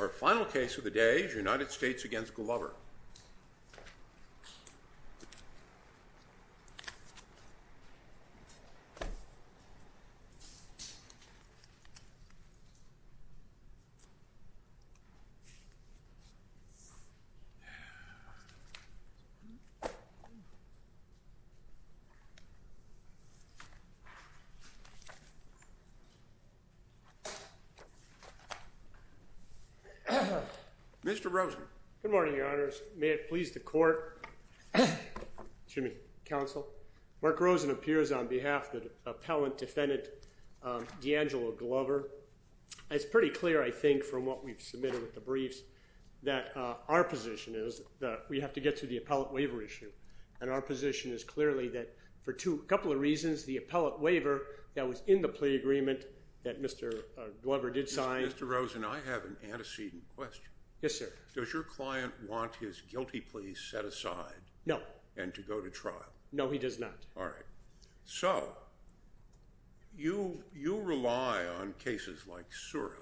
Our final case of the day is United States v. Glover. Mr. Rosen. Good morning, Your Honors. May it please the Court, excuse me, Counsel, Mark Rosen appears on behalf of the appellant defendant, Deangelo Glover. It's pretty clear, I think, from what we've submitted with the briefs, that our position is that we have to get to the appellate waiver issue. And our position is clearly that for a couple of reasons, the appellate waiver that was in the plea agreement that Mr. Glover did sign Mr. Rosen, I have an antecedent question. Yes, sir. Does your client want his guilty plea set aside? No. And to go to trial? No, he does not. All right. So, you rely on cases like Sura.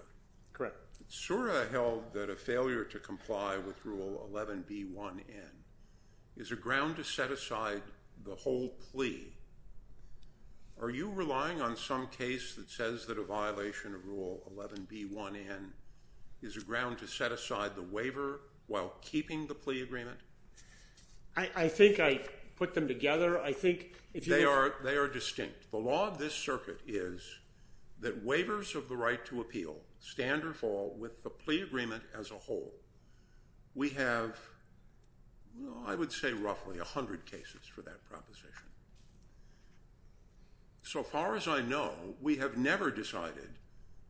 Correct. Sura held that a failure to comply with Rule 11b1n is a ground to set aside the whole plea. Are you relying on some case that says that a violation of Rule 11b1n is a ground to set aside the waiver while keeping the plea agreement? I think I put them together. They are distinct. The law of this circuit is that waivers of the right to appeal stand or fall with the plea agreement as a whole. We have, I would say, roughly 100 cases for that proposition. So far as I know, we have never decided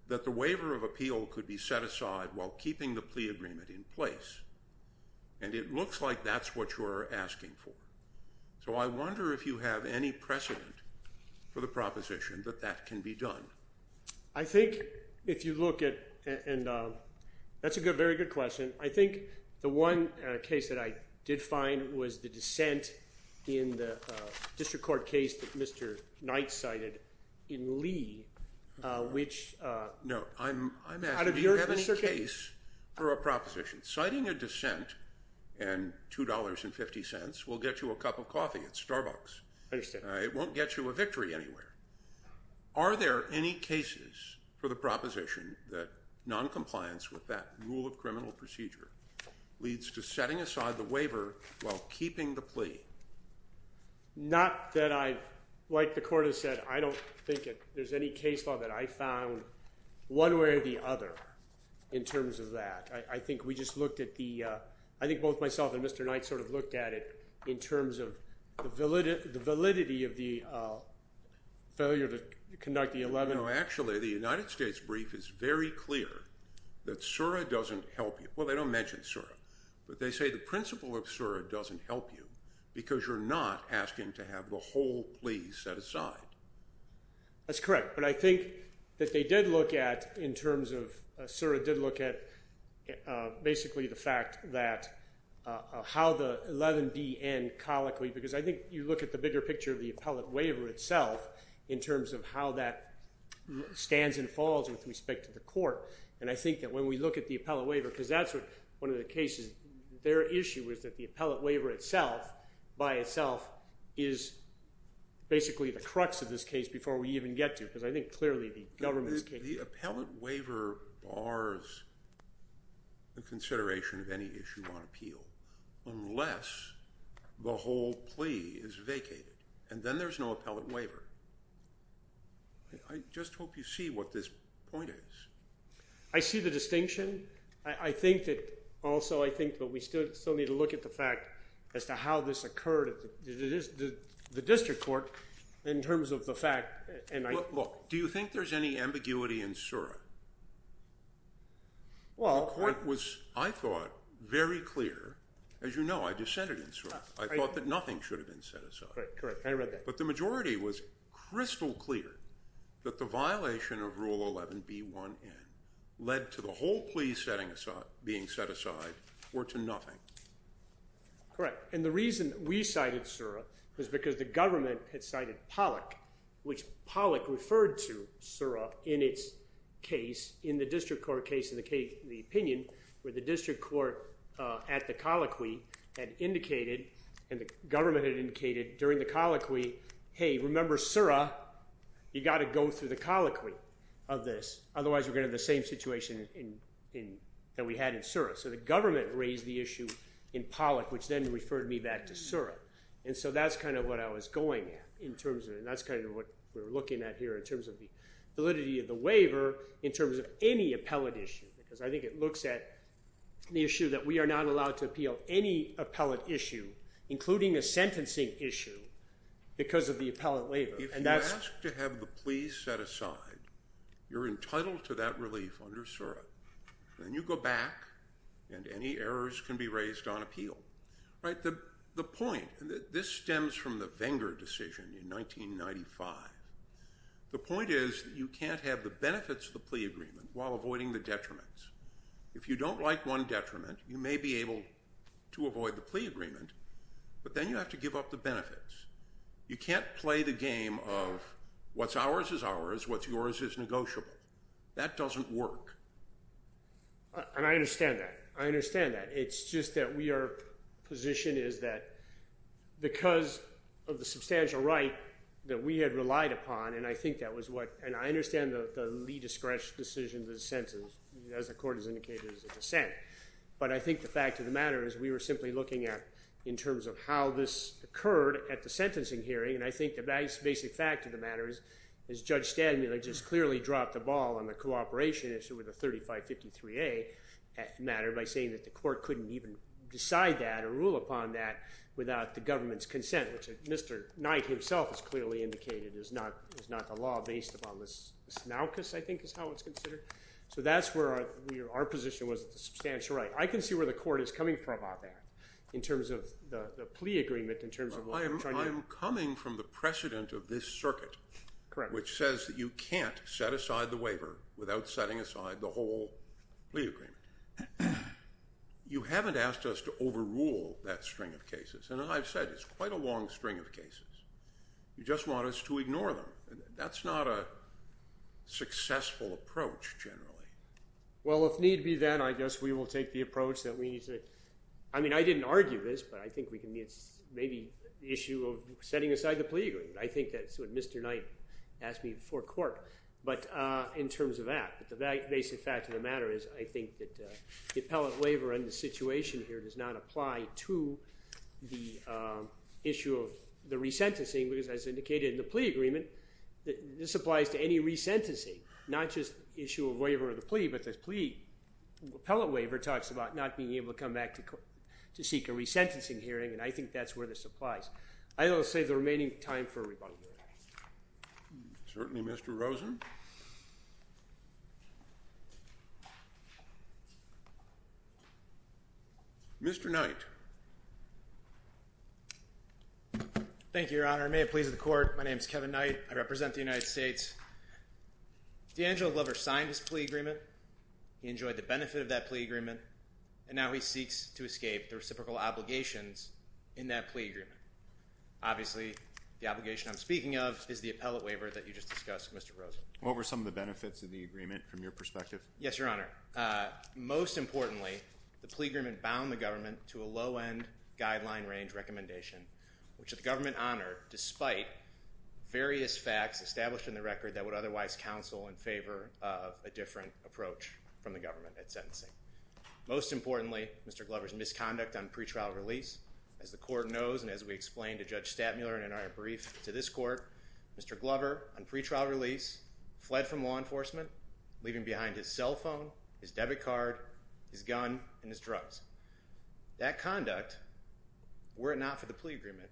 that the waiver of appeal could be set aside while keeping the plea agreement in place. And it looks like that's what you're asking for. So I wonder if you have any precedent for the proposition that that can be done. I think if you look at, and that's a very good question, I think the one case that I did find was the dissent in the district court case that Mr. Knight cited in Lee, which No, I'm asking, do you have any case for a proposition? Citing a dissent and $2.50 will get you a cup of coffee at Starbucks. I understand. It won't get you a victory anywhere. Are there any cases for the proposition that noncompliance with that rule of criminal procedure leads to setting aside the waiver while keeping the plea? Not that I've, like the court has said, I don't think that there's any case law that I found one way or the other in terms of that. I think we just looked at the, I think both myself and Mr. Knight sort of looked at it in terms of the validity of the failure to conduct the 11. Actually, the United States brief is very clear that Sura doesn't help you. Well, they don't mention Sura, but they say the principle of Sura doesn't help you because you're not asking to have the whole plea set aside. That's correct. But I think that they did look at, in terms of Sura did look at basically the fact that how the 11B end colloquially, because I think you look at the bigger picture of the appellate waiver itself in terms of how that stands and falls with respect to the court. And I think that when we look at the appellate waiver, because that's one of the cases, their issue is that the appellate waiver itself, by itself, is basically the crux of this case before we even get to it, because I think clearly the government's case. The appellate waiver bars the consideration of any issue on appeal unless the whole plea is vacated, and then there's no appellate waiver. I just hope you see what this point is. I see the distinction. I think that also I think that we still need to look at the fact as to how this occurred at the district court in terms of the fact. Look, do you think there's any ambiguity in Sura? The court was, I thought, very clear. As you know, I dissented in Sura. I thought that nothing should have been set aside. Correct. I read that. But the majority was crystal clear that the violation of Rule 11B1N led to the whole plea being set aside or to nothing. Correct. And the reason we cited Sura was because the government had cited Pollock, which Pollock referred to Sura in its case in the district court case in the opinion where the district court at the colloquy had indicated and the government had indicated during the colloquy, hey, remember Sura. You've got to go through the colloquy of this. Otherwise, we're going to have the same situation that we had in Sura. So the government raised the issue in Pollock, which then referred me back to Sura. And so that's kind of what I was going at in terms of it, and that's kind of what we're looking at here in terms of the validity of the waiver in terms of any appellate issue because I think it looks at the issue that we are not allowed to appeal any appellate issue, including a sentencing issue, because of the appellate waiver. If you ask to have the pleas set aside, you're entitled to that relief under Sura. Then you go back, and any errors can be raised on appeal. The point, and this stems from the Venger decision in 1995, the point is that you can't have the benefits of the plea agreement while avoiding the detriments. If you don't like one detriment, you may be able to avoid the plea agreement, but then you have to give up the benefits. You can't play the game of what's ours is ours, what's yours is negotiable. That doesn't work. And I understand that. I understand that. It's just that we are positioned as that because of the substantial right that we had relied upon, and I think that was what, and I understand the lee-to-scratch decision of the senses, as the court has indicated as a dissent, but I think the fact of the matter is we were simply looking at in terms of how this occurred at the sentencing hearing, and I think the basic fact of the matter is Judge Stanmuller just clearly dropped the ball on the cooperation issue with the 3553A matter by saying that the court couldn't even decide that or rule upon that without the government's consent, which Mr. Knight himself has clearly indicated is not the law based upon the smaucus, I think is how it's considered. So that's where our position was with the substantial right. I can see where the court is coming from on that in terms of the plea agreement in terms of what we're trying to do. I'm coming from the precedent of this circuit, which says that you can't set aside the waiver without setting aside the whole plea agreement. You haven't asked us to overrule that string of cases, and as I've said, it's quite a long string of cases. You just want us to ignore them. That's not a successful approach generally. Well, if need be then, I guess we will take the approach that we need to. I mean, I didn't argue this, but I think we can maybe issue of setting aside the plea agreement. I think that's what Mr. Knight asked me before court. But in terms of that, the basic fact of the matter is I think that the appellate waiver and the situation here does not apply to the issue of the re-sentencing, because as indicated in the plea agreement, this applies to any re-sentencing, not just the issue of waiver of the plea, but the plea appellate waiver talks about not being able to come back to seek a re-sentencing hearing, and I think that's where this applies. I will save the remaining time for rebuttal hearing. Certainly, Mr. Rosen. Mr. Knight. Thank you, Your Honor. May it please the Court, my name is Kevin Knight. I represent the United States. D'Angelo Glover signed his plea agreement. He enjoyed the benefit of that plea agreement, and now he seeks to escape the reciprocal obligations in that plea agreement. Obviously, the obligation I'm speaking of is the appellate waiver that you just discussed, Mr. Rosen. What were some of the benefits of the agreement from your perspective? Yes, Your Honor. Most importantly, the plea agreement bound the government to a low-end guideline range recommendation, which the government honored despite various facts established in the record that would otherwise counsel in favor of a different approach from the government at sentencing. Most importantly, Mr. Glover's misconduct on pretrial release. As the Court knows, and as we explained to Judge Statmuller in our brief to this Court, Mr. Glover, on pretrial release, fled from law enforcement, leaving behind his cell phone, his debit card, his gun, and his drugs. That conduct, were it not for the plea agreement,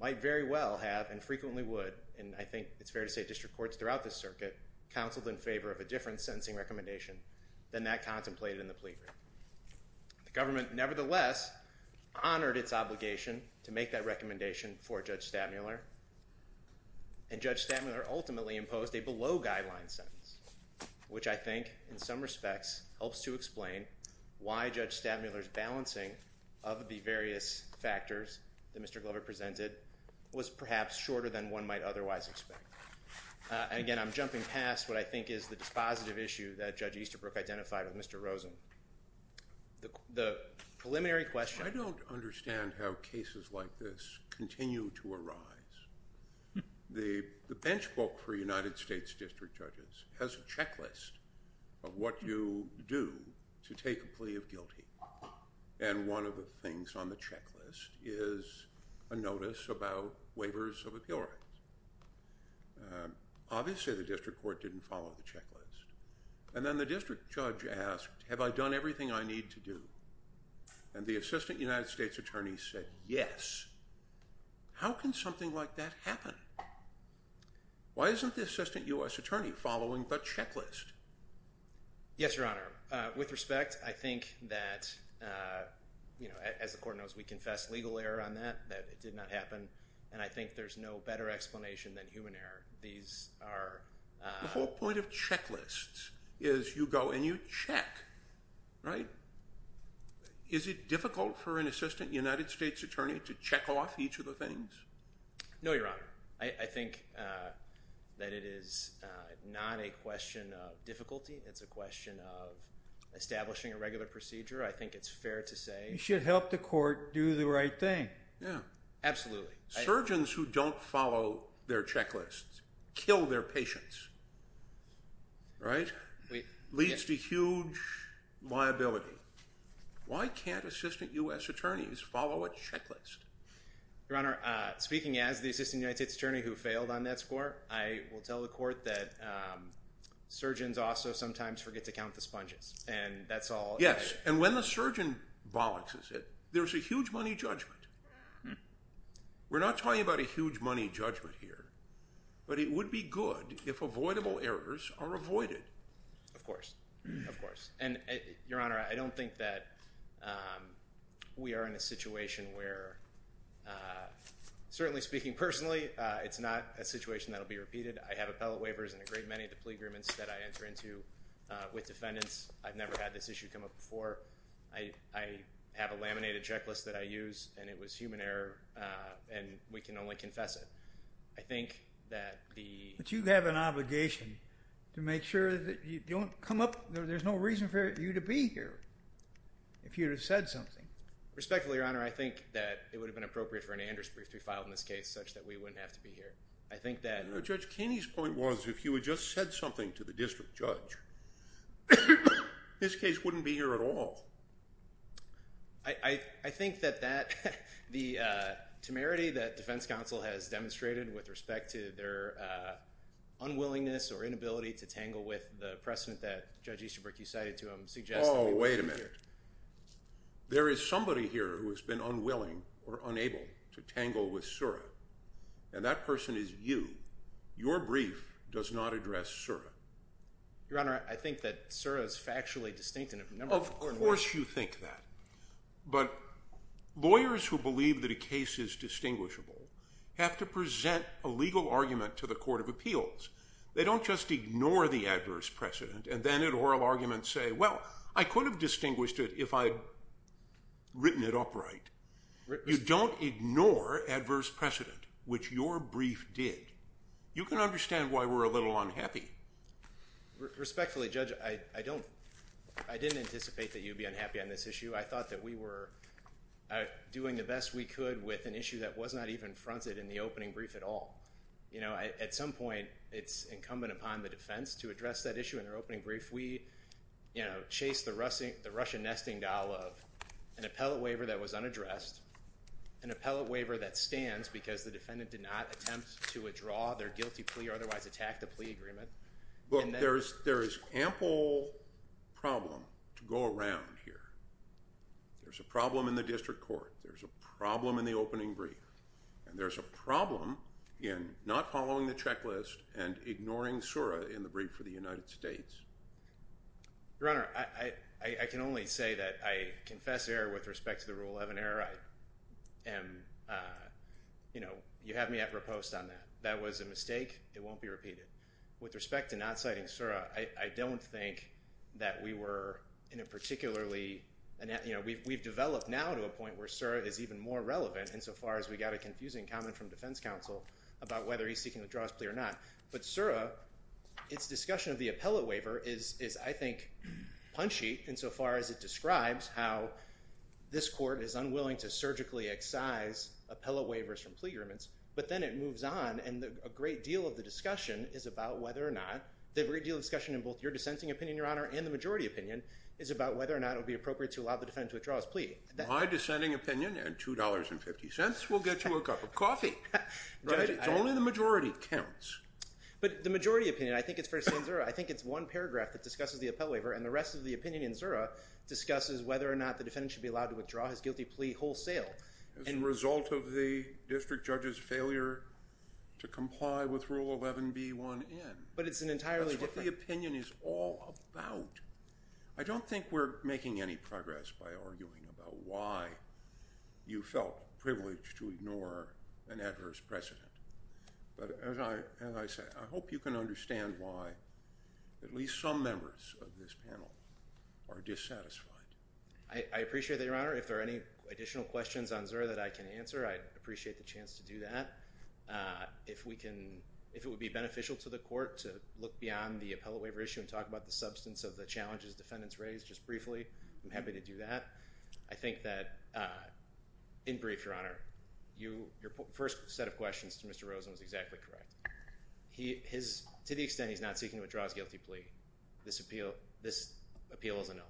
might very well have, and frequently would, and I think it's fair to say district courts throughout this circuit, counseled in favor of a different sentencing recommendation than that contemplated in the plea agreement. The government, nevertheless, honored its obligation to make that recommendation for Judge Statmuller, and Judge Statmuller ultimately imposed a below-guideline sentence, which I think, in some respects, helps to explain why Judge Statmuller's balancing of the various factors that Mr. Glover presented was perhaps shorter than one might otherwise expect. Again, I'm jumping past what I think is the dispositive issue that Judge Easterbrook identified with Mr. Rosen. The preliminary question- I don't understand how cases like this continue to arise. The bench book for United States district judges has a checklist of what you do to take a plea of guilty, and one of the things on the checklist is a notice about waivers of appeal rights. Obviously, the district court didn't follow the checklist. And then the district judge asked, have I done everything I need to do? And the assistant United States attorney said, yes. How can something like that happen? Why isn't the assistant U.S. attorney following the checklist? Yes, Your Honor. With respect, I think that, as the court knows, we confess legal error on that, that it did not happen, and I think there's no better explanation than human error. The whole point of checklists is you go and you check, right? Is it difficult for an assistant United States attorney to check off each of the things? No, Your Honor. I think that it is not a question of difficulty. It's a question of establishing a regular procedure. I think it's fair to say- You should help the court do the right thing. Yeah. Absolutely. Surgeons who don't follow their checklists kill their patients, right? That leads to huge liability. Why can't assistant U.S. attorneys follow a checklist? Your Honor, speaking as the assistant United States attorney who failed on that score, I will tell the court that surgeons also sometimes forget to count the sponges, and that's all. Yes, and when the surgeon bollockses it, there's a huge money judgment. We're not talking about a huge money judgment here, but it would be good if avoidable errors are avoided. Of course. Of course. And, Your Honor, I don't think that we are in a situation where, certainly speaking personally, it's not a situation that will be repeated. I have appellate waivers and a great many of the plea agreements that I enter into with defendants. I've never had this issue come up before. I have a laminated checklist that I use, and it was human error, and we can only confess it. I think that the— But you have an obligation to make sure that you don't come up—there's no reason for you to be here if you had said something. Respectfully, Your Honor, I think that it would have been appropriate for an Anders brief to be filed in this case such that we wouldn't have to be here. I think that— I think that that—the temerity that defense counsel has demonstrated with respect to their unwillingness or inability to tangle with the precedent that Judge Easterbrook, you cited to him, suggests— Oh, wait a minute. There is somebody here who has been unwilling or unable to tangle with Sura, and that person is you. Your brief does not address Sura. Your Honor, I think that Sura is factually distinct in a number of ways. Of course you think that. But lawyers who believe that a case is distinguishable have to present a legal argument to the court of appeals. They don't just ignore the adverse precedent and then in oral arguments say, well, I could have distinguished it if I had written it upright. You don't ignore adverse precedent, which your brief did. You can understand why we're a little unhappy. Respectfully, Judge, I don't—I didn't anticipate that you would be unhappy on this issue. I thought that we were doing the best we could with an issue that was not even fronted in the opening brief at all. At some point, it's incumbent upon the defense to address that issue in their opening brief. If we, you know, chase the Russian nesting doll of an appellate waiver that was unaddressed, an appellate waiver that stands because the defendant did not attempt to withdraw their guilty plea or otherwise attack the plea agreement— Look, there is ample problem to go around here. There's a problem in the district court. There's a problem in the opening brief. And there's a problem in not following the checklist and ignoring Sura in the brief for the United States. Your Honor, I can only say that I confess error with respect to the Rule 11 error. I am—you know, you have me at riposte on that. That was a mistake. It won't be repeated. With respect to not citing Sura, I don't think that we were in a particularly— You know, we've developed now to a point where Sura is even more relevant insofar as we got a confusing comment from defense counsel about whether he's seeking to withdraw his plea or not. But Sura, its discussion of the appellate waiver is, I think, punchy insofar as it describes how this court is unwilling to surgically excise appellate waivers from plea agreements. But then it moves on, and a great deal of the discussion is about whether or not— My dissenting opinion, and $2.50 will get you a cup of coffee. Right? It's only the majority that counts. But the majority opinion, I think it's first in Sura. I think it's one paragraph that discusses the appellate waiver, and the rest of the opinion in Sura discusses whether or not the defendant should be allowed to withdraw his guilty plea wholesale. As a result of the district judge's failure to comply with Rule 11b1n. But it's an entirely different— That's what the opinion is all about. I don't think we're making any progress by arguing about why you felt privileged to ignore an adverse precedent. But as I said, I hope you can understand why at least some members of this panel are dissatisfied. I appreciate that, Your Honor. If there are any additional questions on Sura that I can answer, I'd appreciate the chance to do that. If we can—if it would be beneficial to the court to look beyond the appellate waiver issue and talk about the substance of the challenges defendants raised, just briefly, I'm happy to do that. I think that, in brief, Your Honor, your first set of questions to Mr. Rosen was exactly correct. To the extent he's not seeking to withdraw his guilty plea, this appeal is a nullity.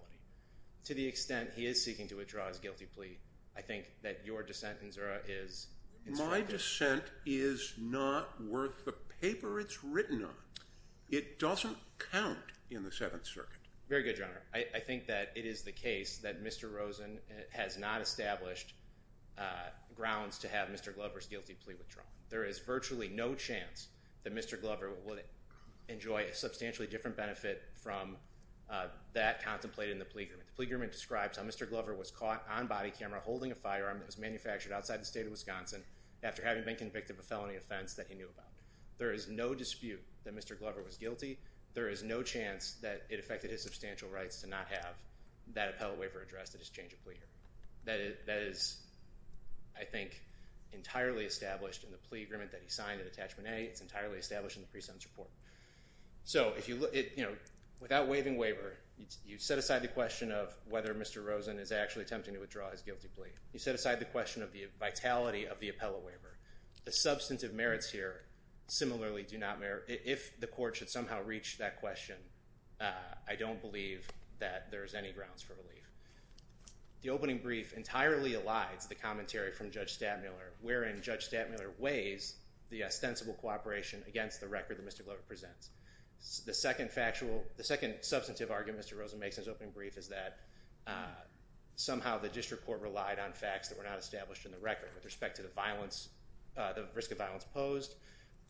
To the extent he is seeking to withdraw his guilty plea, I think that your dissent in Sura is— My dissent is not worth the paper it's written on. It doesn't count in the Seventh Circuit. Very good, Your Honor. I think that it is the case that Mr. Rosen has not established grounds to have Mr. Glover's guilty plea withdrawn. There is virtually no chance that Mr. Glover would enjoy a substantially different benefit from that contemplated in the plea agreement. The plea agreement describes how Mr. Glover was caught on body camera holding a firearm that was manufactured outside the state of Wisconsin after having been convicted of a felony offense that he knew about. There is no dispute that Mr. Glover was guilty. There is no chance that it affected his substantial rights to not have that appellate waiver addressed at his change of plea hearing. That is, I think, entirely established in the plea agreement that he signed in Attachment A. It's entirely established in the pre-sentence report. So without waiving waiver, you set aside the question of whether Mr. Rosen is actually attempting to withdraw his guilty plea. You set aside the question of the vitality of the appellate waiver. The substantive merits here similarly do not—if the court should somehow reach that question, I don't believe that there's any grounds for relief. The opening brief entirely elides the commentary from Judge Stadmiller, wherein Judge Stadmiller weighs the ostensible cooperation against the record that Mr. Glover presents. The second factual—the second substantive argument Mr. Rosen makes in his opening brief is that somehow the district court relied on facts that were not established in the record with respect to the violence—the risk of violence posed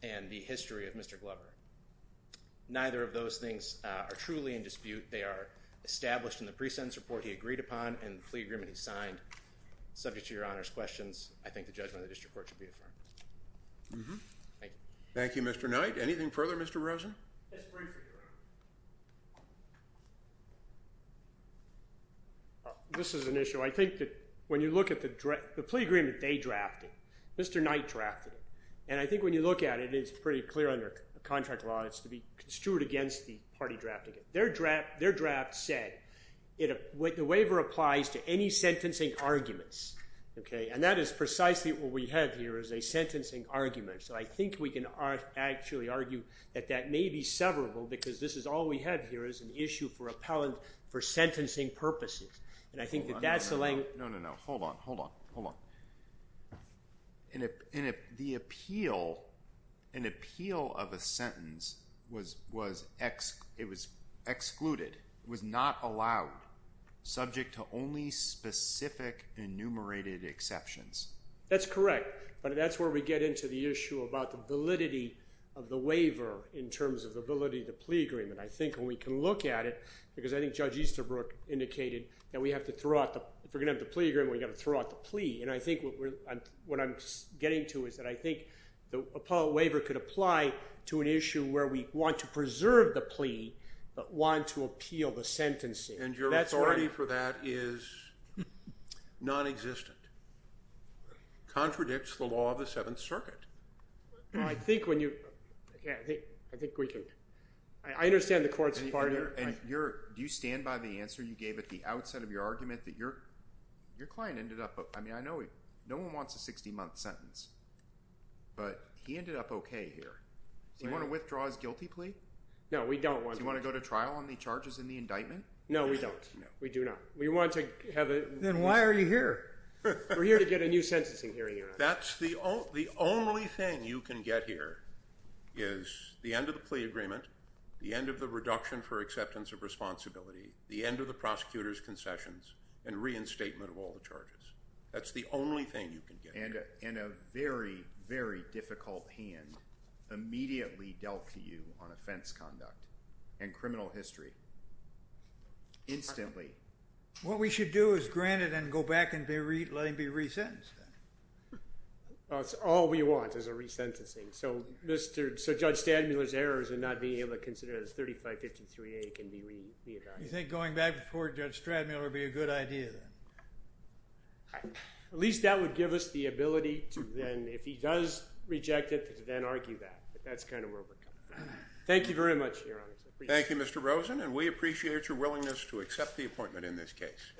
and the history of Mr. Glover. Neither of those things are truly in dispute. They are established in the pre-sentence report he agreed upon and the plea agreement he signed. Subject to Your Honor's questions, I think the judgment of the district court should be affirmed. Thank you. Thank you, Mr. Knight. Anything further, Mr. Rosen? Yes, briefly, Your Honor. This is an issue. I think that when you look at the plea agreement they drafted, Mr. Knight drafted it. And I think when you look at it, it's pretty clear under contract law it's to be construed against the party drafting it. Their draft said the waiver applies to any sentencing arguments. Okay? And that is precisely what we have here is a sentencing argument. So I think we can actually argue that that may be severable because this is all we have here is an issue for appellant for sentencing purposes. And I think that that's the— No, no, no. Hold on. Hold on. The appeal, an appeal of a sentence was excluded, was not allowed, subject to only specific enumerated exceptions. That's correct. But that's where we get into the issue about the validity of the waiver in terms of the validity of the plea agreement. I think when we can look at it, because I think Judge Easterbrook indicated that we have to throw out the—if we're going to have the plea agreement, we've got to throw out the plea. And I think what I'm getting to is that I think the appellate waiver could apply to an issue where we want to preserve the plea but want to appeal the sentencing. And your authority for that is nonexistent, contradicts the law of the Seventh Circuit. Well, I think when you—I think we can—I understand the court's party. And you're—do you stand by the answer you gave at the outset of your argument that your client ended up—I mean I know no one wants a 60-month sentence, but he ended up okay here. Do you want to withdraw his guilty plea? No, we don't want to. Do you want to go to trial on the charges in the indictment? No, we don't. We do not. We want to have a— Then why are you here? We're here to get a new sentencing hearing. That's the only thing you can get here is the end of the plea agreement, the end of the reduction for acceptance of responsibility, the end of the prosecutor's concessions, and reinstatement of all the charges. That's the only thing you can get. And a very, very difficult hand immediately dealt to you on offense conduct and criminal history, instantly. What we should do is grant it and go back and let him be resentenced. That's all we want is a resentencing. So Judge Stradmuller's errors in not being able to consider it as 3553A can be— You think going back before Judge Stradmuller would be a good idea then? At least that would give us the ability to then—if he does reject it, to then argue that. But that's kind of where we're coming from. Thank you very much, Your Honor. I appreciate it. Thank you, Mr. Rosen, and we appreciate your willingness to accept the appointment in this case.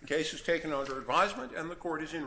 The case is taken under advisement and the court is in recess.